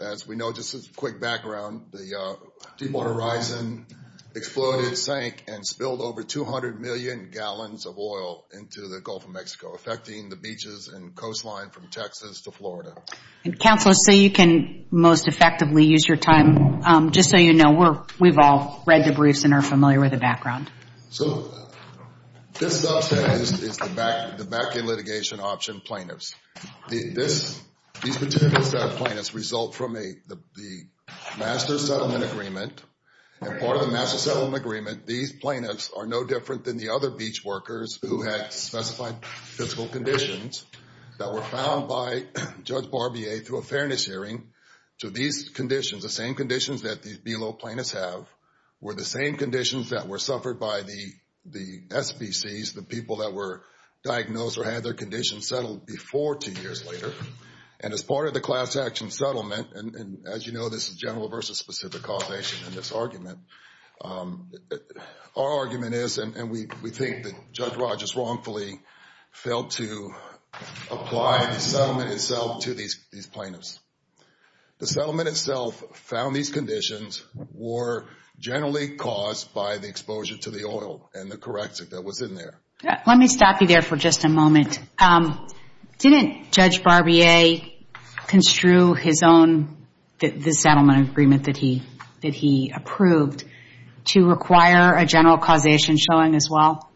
As we know, just as a quick background, the Deepwater Horizon exploded, sank, and spilled over 200 million gallons of oil into the Gulf of Mexico, affecting the beaches and coastline from Texas to Florida. And, Counselor, so you can most effectively use your time, just so you know, we've all read the briefs and are familiar with the background. So this subset is the back-end litigation option plaintiffs. These particular set of plaintiffs result from the Master Settlement Agreement, and part of the Master Settlement Agreement, these plaintiffs are no different than the other beach workers who had specified physical conditions that were found by Judge Barbier through a fairness hearing. So these conditions, the same conditions that these below plaintiffs have, were the same conditions that were suffered by the SBCs, the people that were diagnosed or had their And as part of the Class Action Settlement, and as you know, this is general versus specific causation in this argument, our argument is, and we think that Judge Rogers wrongfully failed to apply the settlement itself to these plaintiffs, the settlement itself found these conditions were generally caused by the exposure to the oil and the corrective that was in there. Let me stop you there for just a moment. Didn't Judge Barbier construe his own, the settlement agreement that he approved, to require a general causation showing as well?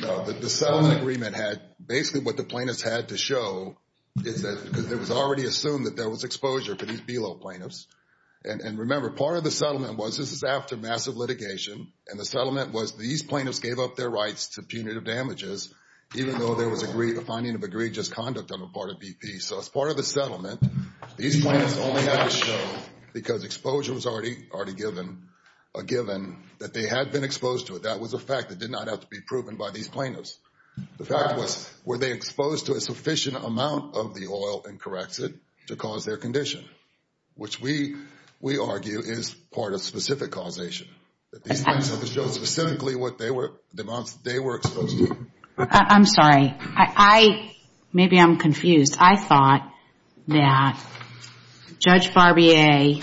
No, the settlement agreement had, basically what the plaintiffs had to show is that it was already assumed that there was exposure for these below plaintiffs. And remember, part of the settlement was, this is after massive litigation, and the plaintiffs gave up their rights to punitive damages, even though there was a finding of egregious conduct on the part of BP. So as part of the settlement, these plaintiffs only had to show, because exposure was already given, that they had been exposed to it. That was a fact that did not have to be proven by these plaintiffs. The fact was, were they exposed to a sufficient amount of the oil and corrective to cause their condition? Which we argue is part of specific causation, that these plaintiffs had to show specifically what they were exposed to. I'm sorry, maybe I'm confused. I thought that Judge Barbier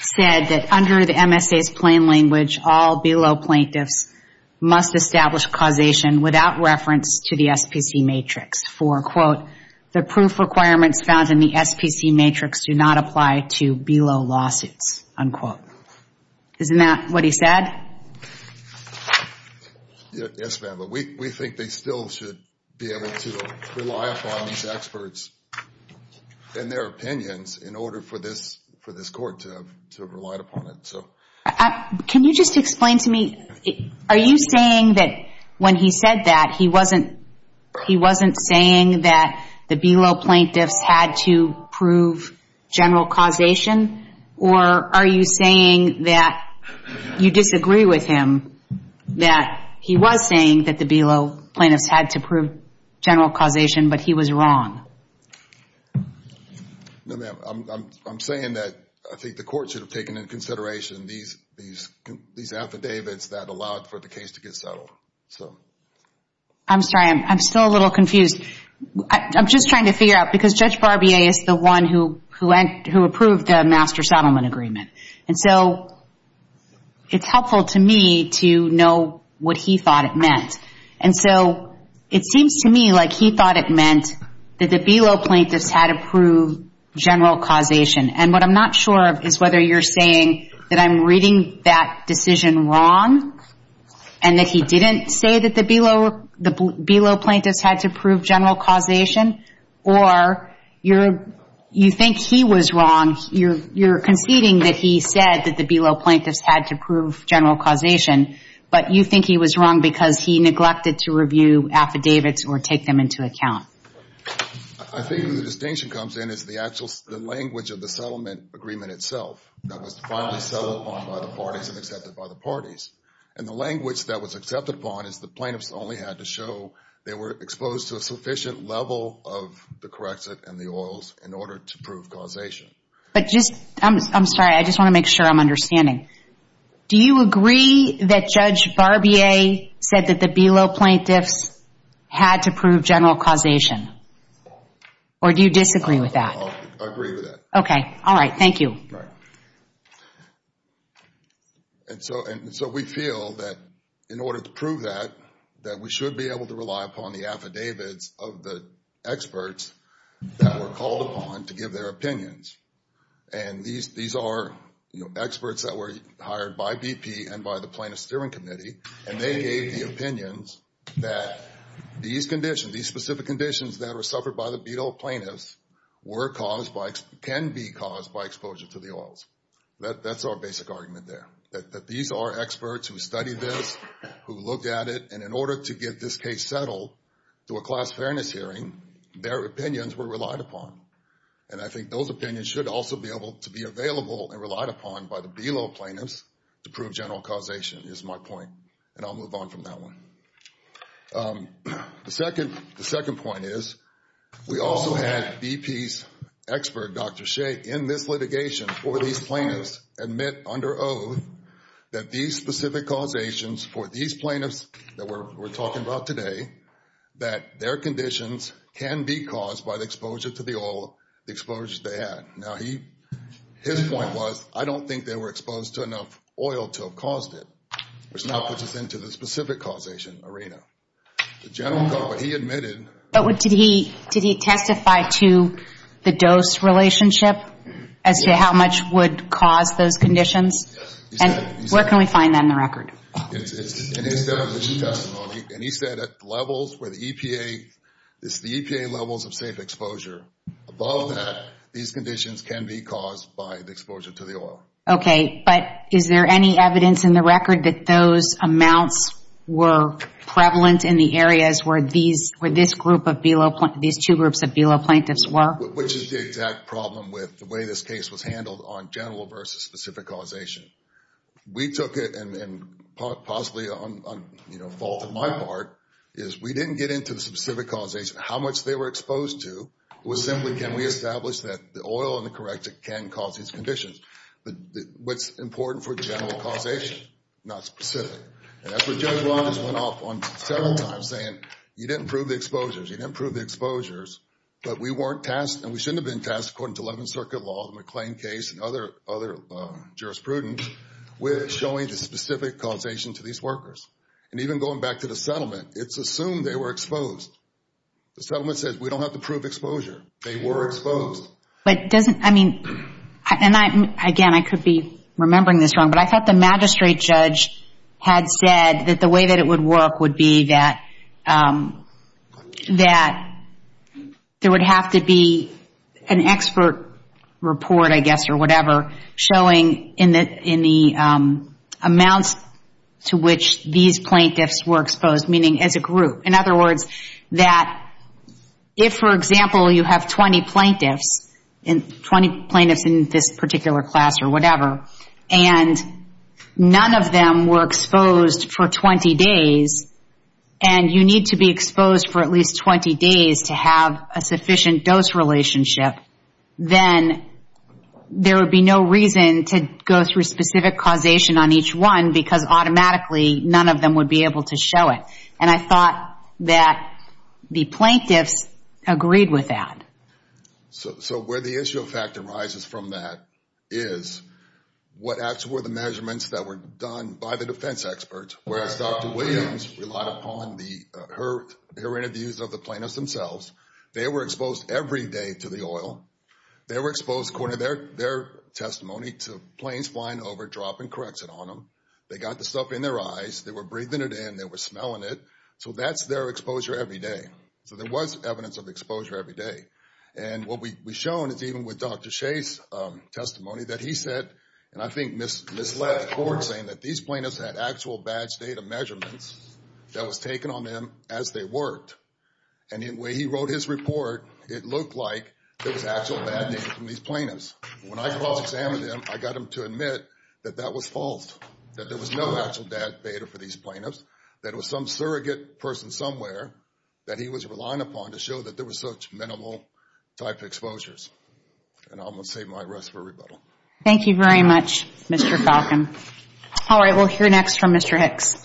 said that under the MSA's plain language, all below plaintiffs must establish causation without reference to the SPC matrix for, quote, the proof requirements found in the SPC matrix do not apply to below lawsuits, unquote. Isn't that what he said? Yes, ma'am, but we think they still should be able to rely upon these experts and their opinions in order for this court to have relied upon it. Can you just explain to me, are you saying that when he said that, he wasn't saying that the below plaintiffs had to prove general causation, or are you saying that you disagree with him that he was saying that the below plaintiffs had to prove general causation, but he was wrong? No, ma'am, I'm saying that I think the court should have taken into consideration these affidavits that allowed for the case to get settled. I'm sorry, I'm still a little confused. I'm just trying to figure out, because Judge Barbier is the one who approved the master settlement agreement, and so it's helpful to me to know what he thought it meant. And so it seems to me like he thought it meant that the below plaintiffs had to prove general causation, and what I'm not sure of is whether you're saying that I'm reading that decision wrong, and that he didn't say that the below plaintiffs had to prove general causation, or you think he was wrong, you're conceding that he said that the below plaintiffs had to prove general causation, but you think he was wrong because he neglected to review affidavits or take them into account. I think the distinction comes in is the actual, the language of the settlement agreement itself that was finally settled upon by the parties and accepted by the parties, and the language that was accepted upon is the plaintiffs only had to show they were exposed to a sufficient level of the corrective and the oils in order to prove causation. But just, I'm sorry, I just want to make sure I'm understanding. Do you agree that Judge Barbier said that the below plaintiffs had to prove general causation? Or do you disagree with that? I agree with that. Okay. All right. Thank you. All right. And so we feel that in order to prove that, that we should be able to rely upon the affidavits of the experts that were called upon to give their opinions. And these are experts that were hired by BP and by the Plaintiff's Steering Committee, and they gave the opinions that these conditions, these specific conditions that were suffered by the below plaintiffs, were caused by, can be caused by exposure to the oils. That's our basic argument there, that these are experts who studied this, who looked at it, and in order to get this case settled through a class fairness hearing, their opinions were relied upon. And I think those opinions should also be able to be available and relied upon by the below plaintiffs to prove general causation is my point, and I'll move on from that one. The second point is, we also had BP's expert, Dr. Shea, in this litigation for these plaintiffs admit under oath that these specific causations for these plaintiffs that we're talking about today, that their conditions can be caused by the exposure to the oil, the exposures they had. Now, his point was, I don't think they were exposed to enough oil to have caused it, which outputs us into the specific causation arena, the general causation, but he admitted... But did he testify to the dose relationship as to how much would cause those conditions? Yes, he said... And where can we find that in the record? It's in his definition testimony, and he said at levels where the EPA, it's the EPA levels of safe exposure, above that, these conditions can be caused by the exposure to the oil. Okay, but is there any evidence in the record that those amounts were prevalent in the areas where these two groups of below plaintiffs were? Which is the exact problem with the way this case was handled on general versus specific causation. We took it, and possibly a fault on my part, is we didn't get into the specific causation, how much they were exposed to, it was simply, can we establish that the oil and the corrective can cause these conditions? But what's important for general causation, not specific, and that's what Judge Ramos went off on several times saying, you didn't prove the exposures, you didn't prove the exposures, but we weren't tasked, and we shouldn't have been tasked according to 11th Circuit law, the McLean case, and other jurisprudence, with showing the specific causation to these workers. And even going back to the settlement, it's assumed they were exposed. The settlement says, we don't have to prove exposure, they were exposed. But doesn't, I mean, and again, I could be remembering this wrong, but I thought the magistrate judge had said that the way that it would work would be that there would have to be an expert report, I guess, or whatever, showing in the amounts to which these plaintiffs were exposed, meaning as a group. In other words, that if, for example, you have 20 plaintiffs, 20 plaintiffs in this particular class or whatever, and none of them were exposed for 20 days, and you need to be exposed for at least 20 days to have a sufficient dose relationship, then there would be no reason to go through specific causation on each one, because automatically none of them would be able to show it. And I thought that the plaintiffs agreed with that. So where the issue of fact arises from that is, what actually were the measurements that were done by the defense experts, whereas Dr. Williams relied upon her interviews of the plaintiffs themselves, they were exposed every day to the oil, they were exposed according to their testimony to planes flying over, dropping Correxit on them, they got the stuff in their eyes, they were breathing it in, they were smelling it, so that's their exposure every day. So there was evidence of exposure every day. And what we've shown is even with Dr. Shea's testimony that he said, and I think misled the court saying that these plaintiffs had actual badge data measurements that was taken on them as they worked. And in the way he wrote his report, it looked like there was actual bad data from these plaintiffs. When I cross-examined them, I got them to admit that that was false, that there was no actual bad data for these plaintiffs, that it was some surrogate person somewhere that he was relying upon to show that there was such minimal type of exposures. And I'm going to save my arrest for rebuttal. Thank you very much, Mr. Falcon. All right, we'll hear next from Mr. Hicks.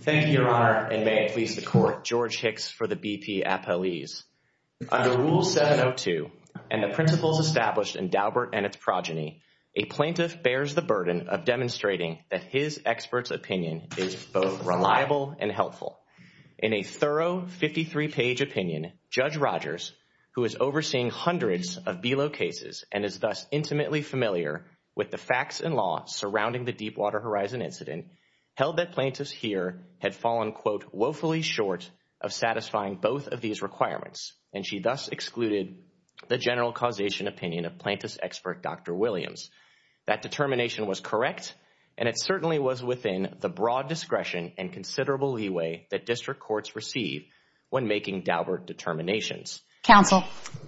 Thank you, Your Honor, and may it please the court, George Hicks for the BP Appellees. Under Rule 702 and the principles established in Daubert and its progeny, a plaintiff bears the burden of demonstrating that his expert's opinion is both reliable and helpful. In a thorough 53-page opinion, Judge Rogers, who is overseeing hundreds of BELO cases and is thus intimately familiar with the facts and law surrounding the Deepwater Horizon incident, held that plaintiffs here had fallen, quote, woefully short of satisfying both of these requirements. And she thus excluded the general causation opinion of plaintiff's expert, Dr. Williams. That determination was correct, and it certainly was within the broad discretion and considerable leeway that district courts receive when making Daubert determinations. Counsel,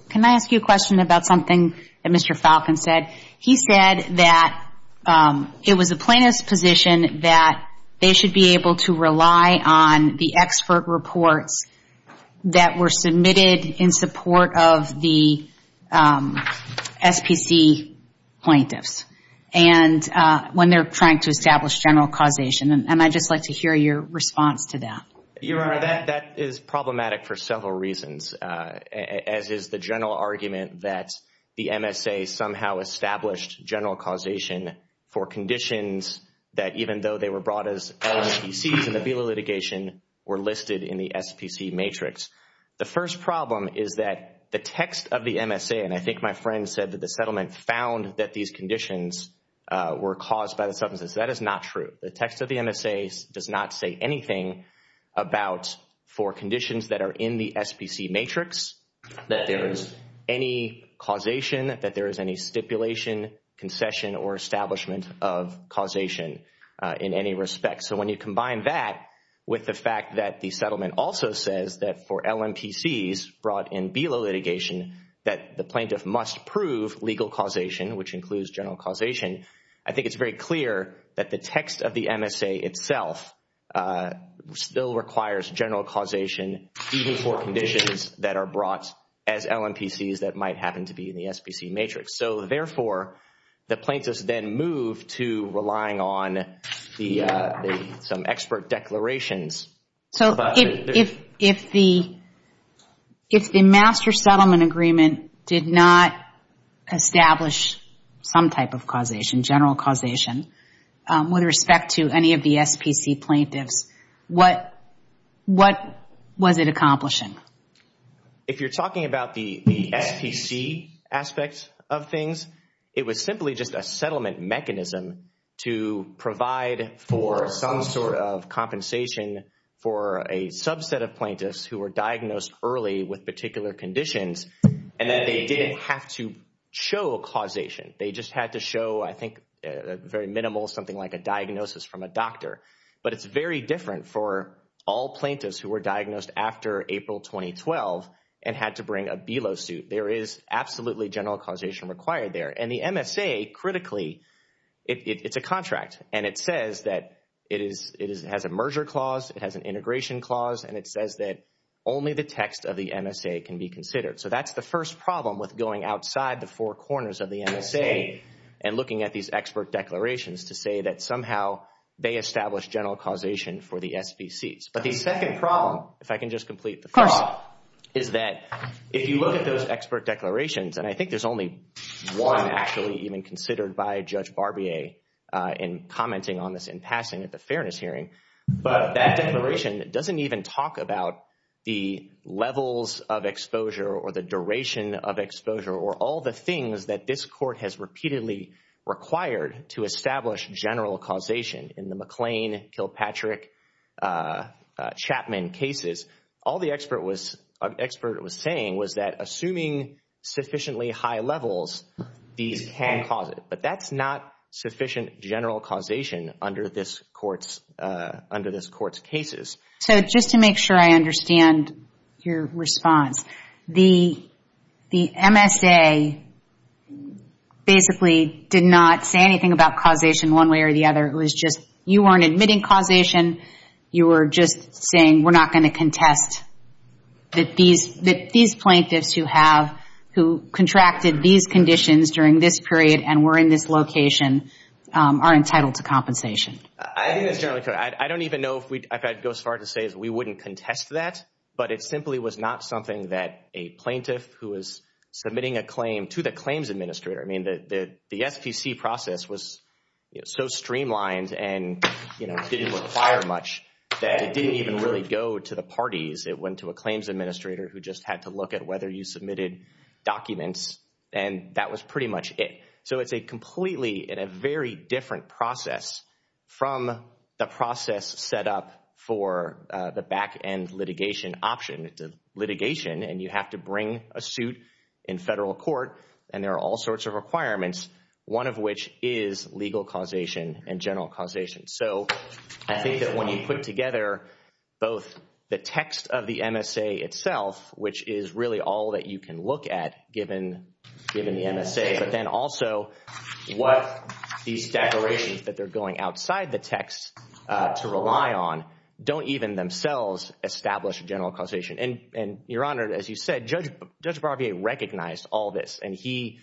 can I ask you a question about something that Mr. Falcon said? He said that it was the plaintiff's position that they should be able to rely on the expert reports that were submitted in support of the SPC plaintiffs when they're trying to establish general causation. And I'd just like to hear your response to that. Your Honor, that is problematic for several reasons, as is the general argument that the MSA somehow established general causation for conditions that even though they were brought as LMPCs in the BELO litigation were listed in the SPC matrix. The first problem is that the text of the MSA, and I think my friend said that the settlement found that these conditions were caused by the substance. That is not true. The text of the MSA does not say anything about for conditions that are in the SPC matrix that there is any causation, that there is any stipulation, concession, or establishment of causation in any respect. So when you combine that with the fact that the settlement also says that for LMPCs brought in BELO litigation that the plaintiff must prove legal causation, which includes general causation, I think it's very clear that the text of the MSA itself still requires general causation even for conditions that are brought as LMPCs that might happen to be in the SPC matrix. So therefore, the plaintiffs then move to relying on some expert declarations. So if the master settlement agreement did not establish some type of causation, general causation, with respect to any of the SPC plaintiffs, what was it accomplishing? If you're talking about the SPC aspects of things, it was simply just a settlement mechanism to provide for some sort of compensation for a subset of plaintiffs who were diagnosed early with particular conditions, and then they didn't have to show causation. They just had to show, I think, a very minimal, something like a diagnosis from a doctor. But it's very different for all plaintiffs who were diagnosed after April 2012 and had to bring a BELO suit. There is absolutely general causation required there. And the MSA, critically, it's a contract. And it says that it has a merger clause, it has an integration clause, and it says that only the text of the MSA can be considered. So that's the first problem with going outside the four corners of the MSA and looking at these expert declarations to say that somehow they established general causation for the SPCs. But the second problem, if I can just complete the thought, is that if you look at those that were actually even considered by Judge Barbier in commenting on this in passing at the fairness hearing, but that declaration doesn't even talk about the levels of exposure or the duration of exposure or all the things that this court has repeatedly required to establish general causation in the McLean, Kilpatrick, Chapman cases. All the expert was saying was that assuming sufficiently high levels, these can cause it. But that's not sufficient general causation under this court's cases. So just to make sure I understand your response, the MSA basically did not say anything about causation one way or the other. It was just, you weren't admitting causation. You were just saying we're not going to contest that these plaintiffs who have, who contracted these conditions during this period and were in this location, are entitled to compensation. I think that's generally true. I don't even know if I'd go as far to say we wouldn't contest that, but it simply was not something that a plaintiff who was submitting a claim to the claims administrator, I mean the SPC process was so streamlined and didn't require much that it didn't even really go to the parties. It went to a claims administrator who just had to look at whether you submitted documents and that was pretty much it. So it's a completely and a very different process from the process set up for the back end litigation option. It's a litigation and you have to bring a suit in federal court and there are all sorts of requirements, one of which is legal causation and general causation. So I think that when you put together both the text of the MSA itself, which is really all that you can look at given the MSA, but then also what these declarations that they're going outside the text to rely on don't even themselves establish a general causation. Your Honor, as you said, Judge Barbier recognized all this and he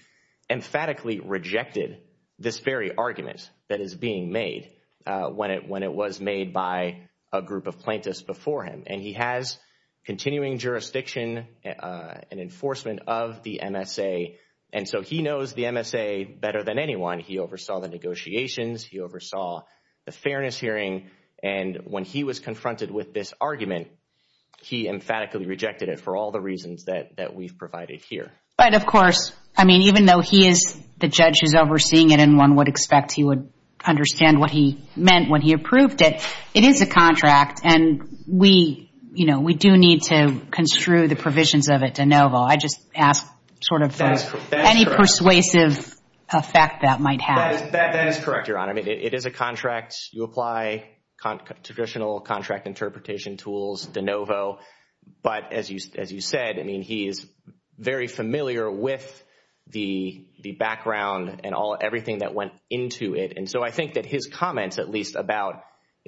emphatically rejected this very argument that is being made when it was made by a group of plaintiffs before him and he has continuing jurisdiction and enforcement of the MSA and so he knows the MSA better than anyone. He oversaw the negotiations, he oversaw the fairness hearing and when he was confronted with this argument, he emphatically rejected it for all the reasons that we've provided here. But of course, I mean, even though he is the judge who's overseeing it and one would expect he would understand what he meant when he approved it, it is a contract and we do need to construe the provisions of it de novo. I just ask sort of any persuasive effect that might have. That is correct, Your Honor. It is a contract. You apply traditional contract interpretation tools de novo, but as you said, I mean, he is very familiar with the background and everything that went into it and so I think that his comments at least about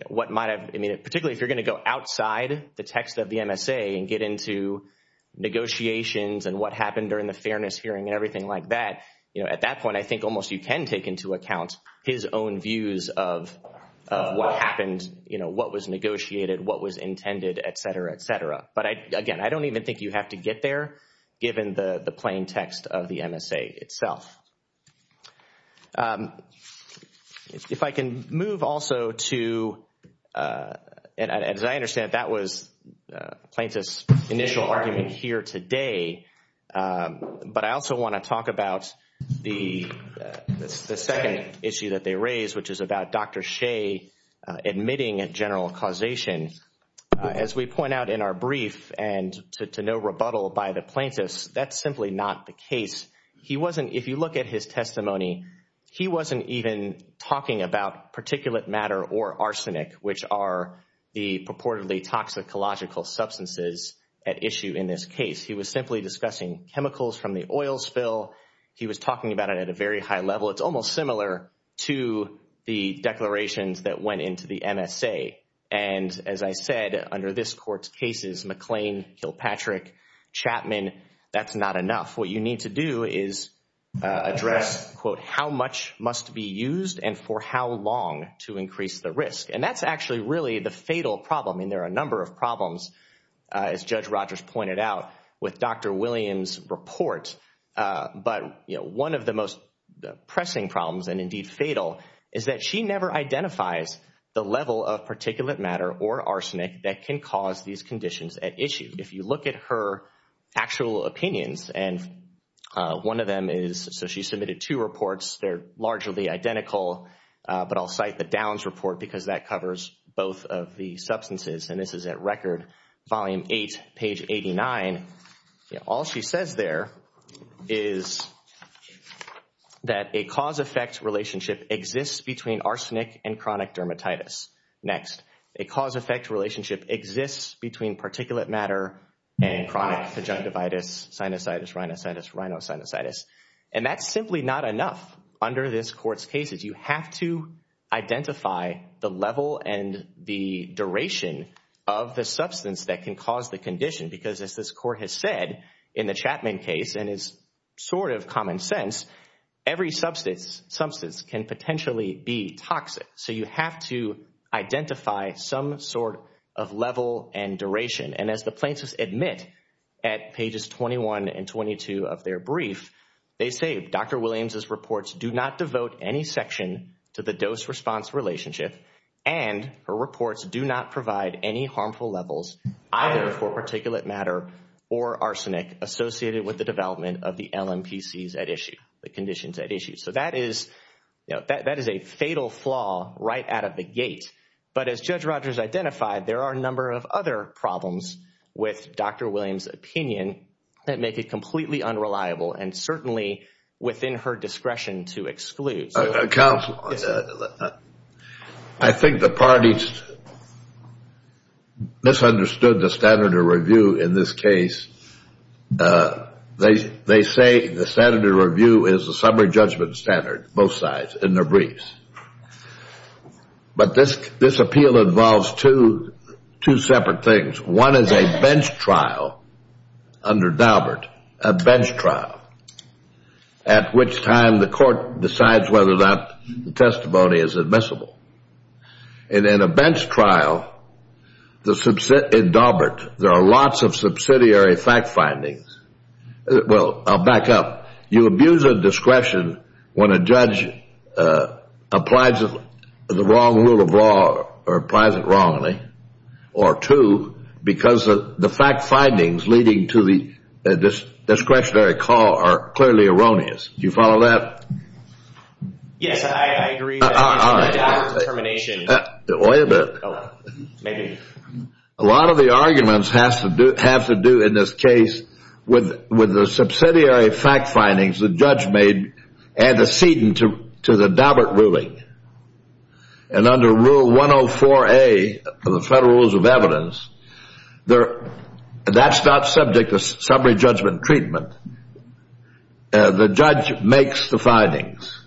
what might have, I mean, particularly if you're going to go outside the text of the MSA and get into negotiations and what happened during the fairness hearing and everything like that, at that point, I think almost you can take into account his own views of what happened, what was negotiated, what was intended, et cetera, et cetera. But again, I don't even think you have to get there given the plain text of the MSA itself. If I can move also to, and as I understand it, that was Plaintiff's initial argument here today, but I also want to talk about the second issue that they raised, which is about Dr. Shea admitting a general causation. As we point out in our brief and to no rebuttal by the plaintiffs, that's simply not the case. He wasn't, if you look at his testimony, he wasn't even talking about particulate matter or arsenic, which are the purportedly toxicological substances at issue in this case. He was simply discussing chemicals from the oil spill. He was talking about it at a very high level. It's almost similar to the declarations that went into the MSA. And as I said, under this Court's cases, McLean, Kilpatrick, Chapman, that's not enough. What you need to do is address, quote, how much must be used and for how long to increase the risk. And that's actually really the fatal problem. There are a number of problems, as Judge Rogers pointed out, with Dr. Williams' report, but one of the most pressing problems, and indeed fatal, is that she never identifies the level of particulate matter or arsenic that can cause these conditions at issue. If you look at her actual opinions, and one of them is, so she submitted two reports, they're largely identical, but I'll cite the Downs report because that covers both of the substances, and this is at Record, Volume 8, page 89. All she says there is that a cause-effect relationship exists between arsenic and chronic dermatitis. Next, a cause-effect relationship exists between particulate matter and chronic conjunctivitis, sinusitis, rhinositis, rhinosinusitis. And that's simply not enough under this Court's cases. You have to identify the level and the duration of the substance that can cause the condition because as this Court has said in the Chapman case, and is sort of common sense, every substance can potentially be toxic. So you have to identify some sort of level and duration. And as the plaintiffs admit at pages 21 and 22 of their brief, they say, Dr. Williams's reports do not devote any section to the dose-response relationship, and her reports do not provide any harmful levels either for particulate matter or arsenic associated with the development of the LMPCs at issue, the conditions at issue. So that is a fatal flaw right out of the gate. But as Judge Rogers identified, there are a number of other problems with Dr. Williams's opinion that make it completely unreliable and certainly within her discretion to exclude. Counsel, I think the parties misunderstood the standard of review in this case. They say the standard of review is the summary judgment standard, both sides, in their briefs. But this appeal involves two separate things. One is a bench trial under Daubert, a bench trial, at which time the Court decides whether or not the testimony is admissible. And in a bench trial, in Daubert, there are lots of subsidiary fact findings. Well, I'll back up. You abuse a discretion when a judge applies the wrong rule of law or applies it wrongly or two, because the fact findings leading to the discretionary call are clearly erroneous. Do you follow that? Yes, I agree. All right. Wait a minute. A lot of the arguments have to do in this case with the subsidiary fact findings the judge made antecedent to the Daubert ruling. And under Rule 104A of the Federal Rules of Evidence, that's not subject to summary judgment treatment. The judge makes the findings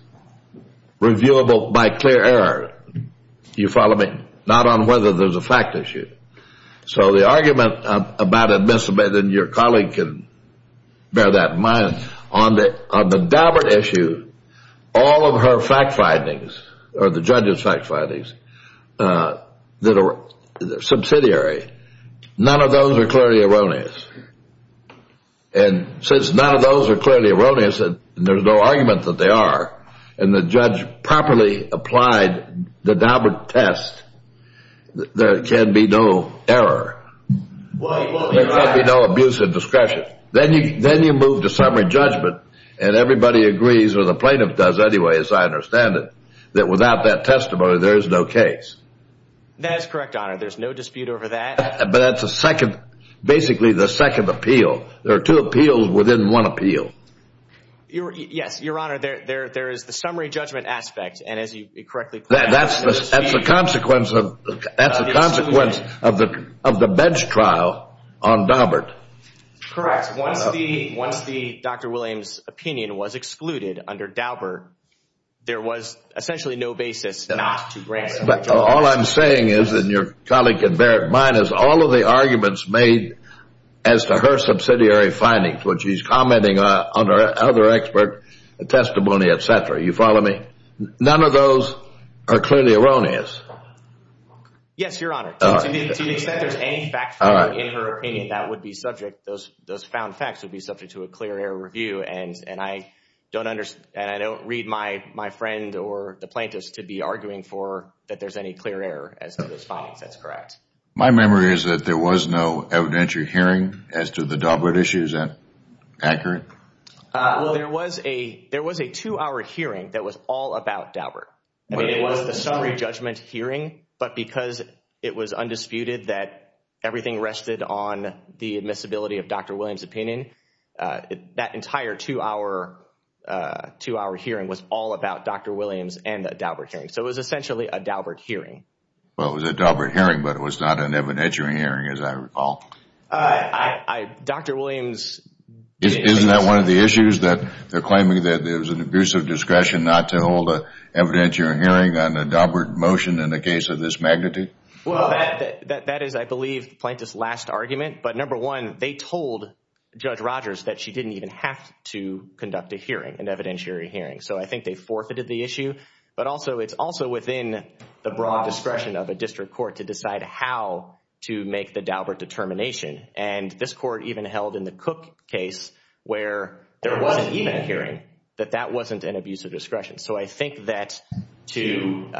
reviewable by clear error. You follow me? Not on whether there's a fact issue. So the argument about admissibility, and your colleague can bear that in mind, on the Daubert issue, all of her fact findings, or the judge's fact findings, that are subsidiary, none of those are clearly erroneous. And since none of those are clearly erroneous, and there's no argument that they are, and the judge properly applied the Daubert test, there can be no error, there can be no abuse of discretion. Then you move to summary judgment, and everybody agrees, or the plaintiff does anyway, as I understand it, that without that testimony, there is no case. That's correct, Honor. There's no dispute over that. But that's the second, basically the second appeal. There are two appeals within one appeal. Yes, Your Honor. There is the summary judgment aspect, and as you correctly point out, there's a dispute. That's a consequence of the bench trial on Daubert. Correct. Once the Dr. Williams' opinion was excluded under Daubert, there was essentially no basis not to grant summary judgment. All I'm saying is, and your colleague can bear it in mind, is all of the arguments made as to her subsidiary findings, when she's commenting on her other expert testimony, et cetera, you follow me? None of those are clearly erroneous. Yes, Your Honor. To the extent there's any fact-finding in her opinion, that would be subject, those found facts would be subject to a clear error review, and I don't read my friend or the court to make sure there's any clear error as to those findings, that's correct. My memory is that there was no evidentiary hearing as to the Daubert issue, is that accurate? There was a two-hour hearing that was all about Daubert. I mean, it was the summary judgment hearing, but because it was undisputed that everything rested on the admissibility of Dr. Williams' opinion, that entire two-hour hearing was all about Dr. Williams and the Daubert hearing. So it was essentially a Daubert hearing. Well, it was a Daubert hearing, but it was not an evidentiary hearing, as I recall. Dr. Williams... Isn't that one of the issues, that they're claiming that there was an abusive discretion not to hold an evidentiary hearing on a Daubert motion in a case of this magnitude? Well, that is, I believe, the plaintiff's last argument, but number one, they told Judge Rogers that she didn't even have to conduct a hearing, an evidentiary hearing, so I think they forfeited the issue, but also, it's also within the broad discretion of a district court to decide how to make the Daubert determination, and this court even held in the Cook case where there was an event hearing, that that wasn't an abusive discretion. So I think that to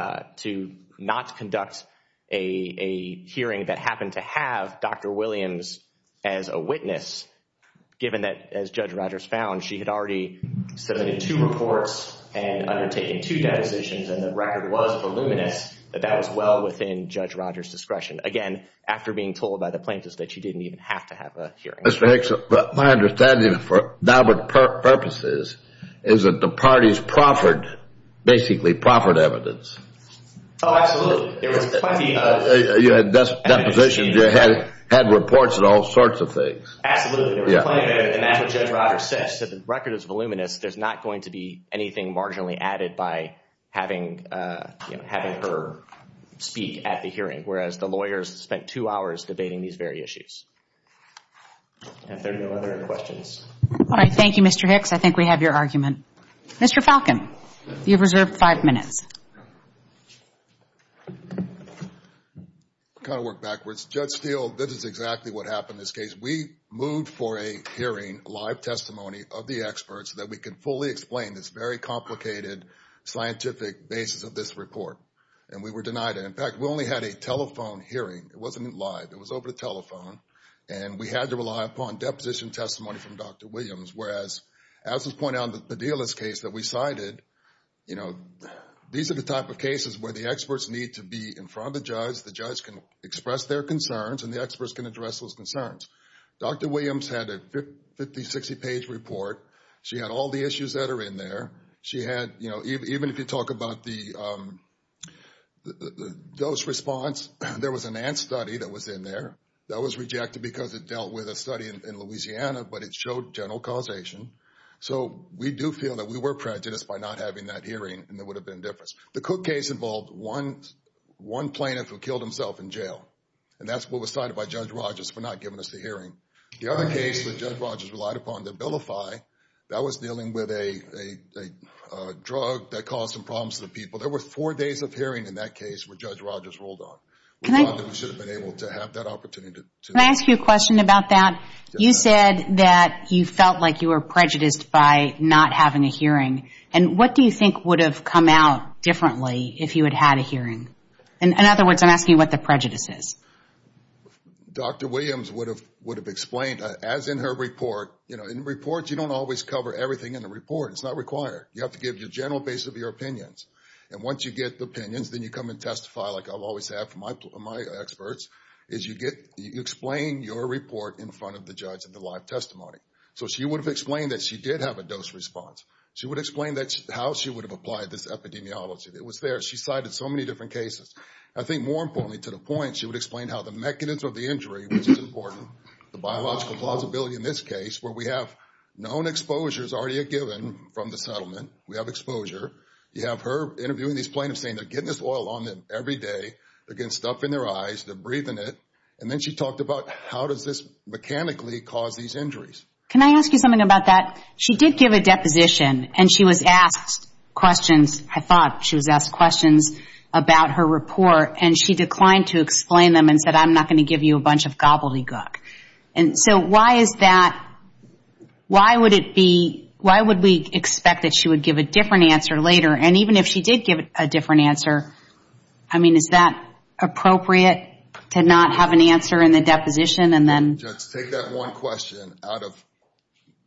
not conduct a hearing that happened to have Dr. Williams as a witness, given that, as Judge Rogers found, she had already submitted two reports and undertaken two depositions, and the record was voluminous, that that was well within Judge Rogers' discretion. Again, after being told by the plaintiff that she didn't even have to have a hearing. Mr. Hicks, my understanding for Daubert purposes is that the parties proffered, basically, proffered evidence. Oh, absolutely. There was plenty of evidence. You had depositions, you had reports of all sorts of things. Absolutely. There was plenty of evidence, and that's what Judge Rogers said. She said the record is voluminous, there's not going to be anything marginally added by having her speak at the hearing, whereas the lawyers spent two hours debating these very issues. And if there are no other questions. All right. Thank you, Mr. Hicks. I think we have your argument. Mr. Falcon, you've reserved five minutes. Kind of work backwards. Judge Steele, this is exactly what happened in this case. We moved for a hearing, live testimony of the experts that we could fully explain this very complicated scientific basis of this report, and we were denied it. In fact, we only had a telephone hearing. It wasn't live. It was over the telephone, and we had to rely upon deposition testimony from Dr. Williams, whereas, as was pointed out in the Padilla's case that we cited, you know, these are the type of cases where the experts need to be in front of the judge. The judge can express their concerns, and the experts can address those concerns. Dr. Williams had a 50-, 60-page report. She had all the issues that are in there. She had, you know, even if you talk about the dose response, there was an ant study that was in there. That was rejected because it dealt with a study in Louisiana, but it showed general causation. So, we do feel that we were prejudiced by not having that hearing, and there would have been a difference. The Cook case involved one plaintiff who killed himself in jail, and that's what was cited by Judge Rogers for not giving us the hearing. The other case that Judge Rogers relied upon, the Billify, that was dealing with a drug that caused some problems to the people. There were four days of hearing in that case where Judge Rogers rolled on. We thought that we should have been able to have that opportunity. Can I ask you a question about that? You said that you felt like you were prejudiced by not having a hearing, and what do you think would have come out differently if you had had a hearing? In other words, I'm asking what the prejudice is. Dr. Williams would have explained, as in her report, you know, in reports you don't always cover everything in a report. It's not required. You have to give your general base of your opinions, and once you get the opinions, then you come and testify like I'll always have from my experts, is you explain your report in front of the judge in the live testimony. So, she would have explained that she did have a dose response. She would explain how she would have applied this epidemiology. It was there. She cited so many different cases. I think more importantly, to the point, she would explain how the mechanism of the injury, which is important, the biological plausibility in this case, where we have known exposures already given from the settlement, we have exposure. You have her interviewing these plaintiffs, saying they're getting this oil on them every day. They're getting stuff in their eyes. They're breathing it. And then she talked about how does this mechanically cause these injuries. Can I ask you something about that? She did give a deposition, and she was asked questions. I thought she was asked questions about her report, and she declined to explain them and said, I'm not going to give you a bunch of gobbledygook. And so, why is that? Why would it be, why would we expect that she would give a different answer later? And even if she did give a different answer, I mean, is that appropriate to not have an answer in the deposition, and then? Judge, take that one question out of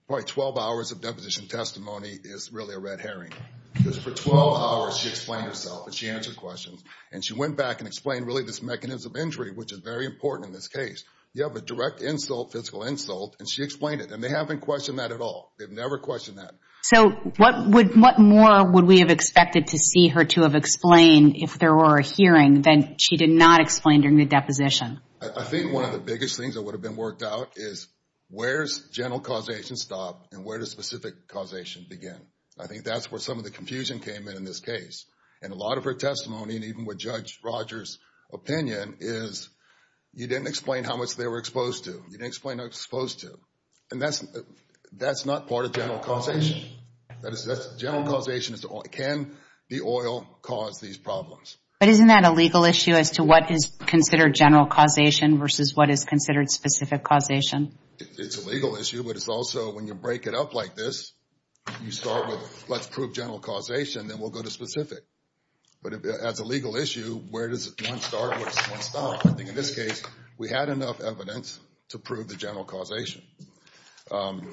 probably 12 hours of deposition testimony is really a red herring. Because for 12 hours, she explained herself, and she answered questions. And she went back and explained, really, this mechanism of injury, which is very important in this case. You have a direct insult, physical insult, and she explained it. And they haven't questioned that at all. They've never questioned that. So, what more would we have expected to see her to have explained if there were a hearing than she did not explain during the deposition? I think one of the biggest things that would have been worked out is, where's general causation stop, and where does specific causation begin? I think that's where some of the confusion came in, in this case. And a lot of her testimony, and even with Judge Rogers' opinion, is you didn't explain how much they were exposed to. You didn't explain how exposed to. And that's not part of general causation. That's general causation. Can the oil cause these problems? But isn't that a legal issue as to what is considered general causation versus what is considered specific causation? It's a legal issue, but it's also, when you break it up like this, you start with, let's prove general causation, then we'll go to specific. But as a legal issue, where does one start, where does one stop? I think in this case, we had enough evidence to prove the general causation. And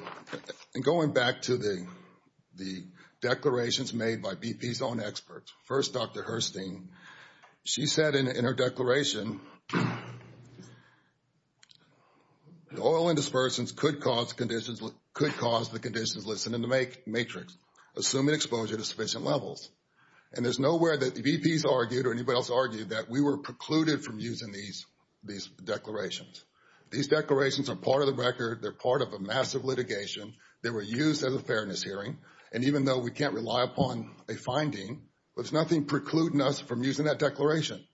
going back to the declarations made by BP's own experts. First, Dr. Hurstine, she said in her declaration, oil and dispersants could cause the conditions listed in the matrix, assuming exposure to sufficient levels. And there's nowhere that BP's argued or anybody else argued that we were precluded from using these declarations. These declarations are part of the record. They're part of a massive litigation. They were used as a fairness hearing. And even though we can't rely upon a finding, there's nothing precluding us from using that declaration.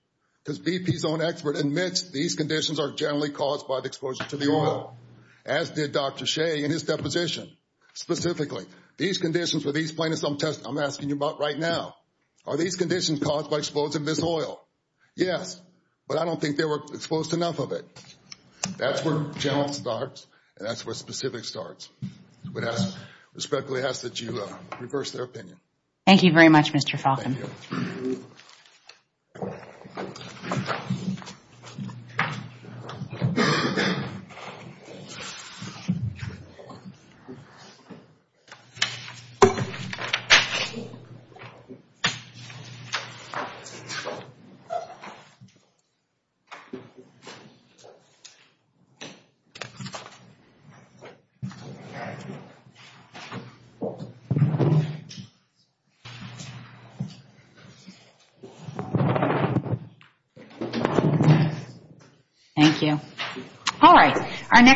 Because BP's own expert admits these conditions are generally caused by the exposure to the oil. As did Dr. Shea in his deposition. Specifically, these conditions were explained in some test I'm asking you about right now. Are these conditions caused by exposure to this oil? Yes. But I don't think they were exposed to enough of it. That's where general starts, and that's where specific starts. I respectfully ask that you reverse their opinion. Thank you very much, Mr. Falkin. Thank you. Thank you.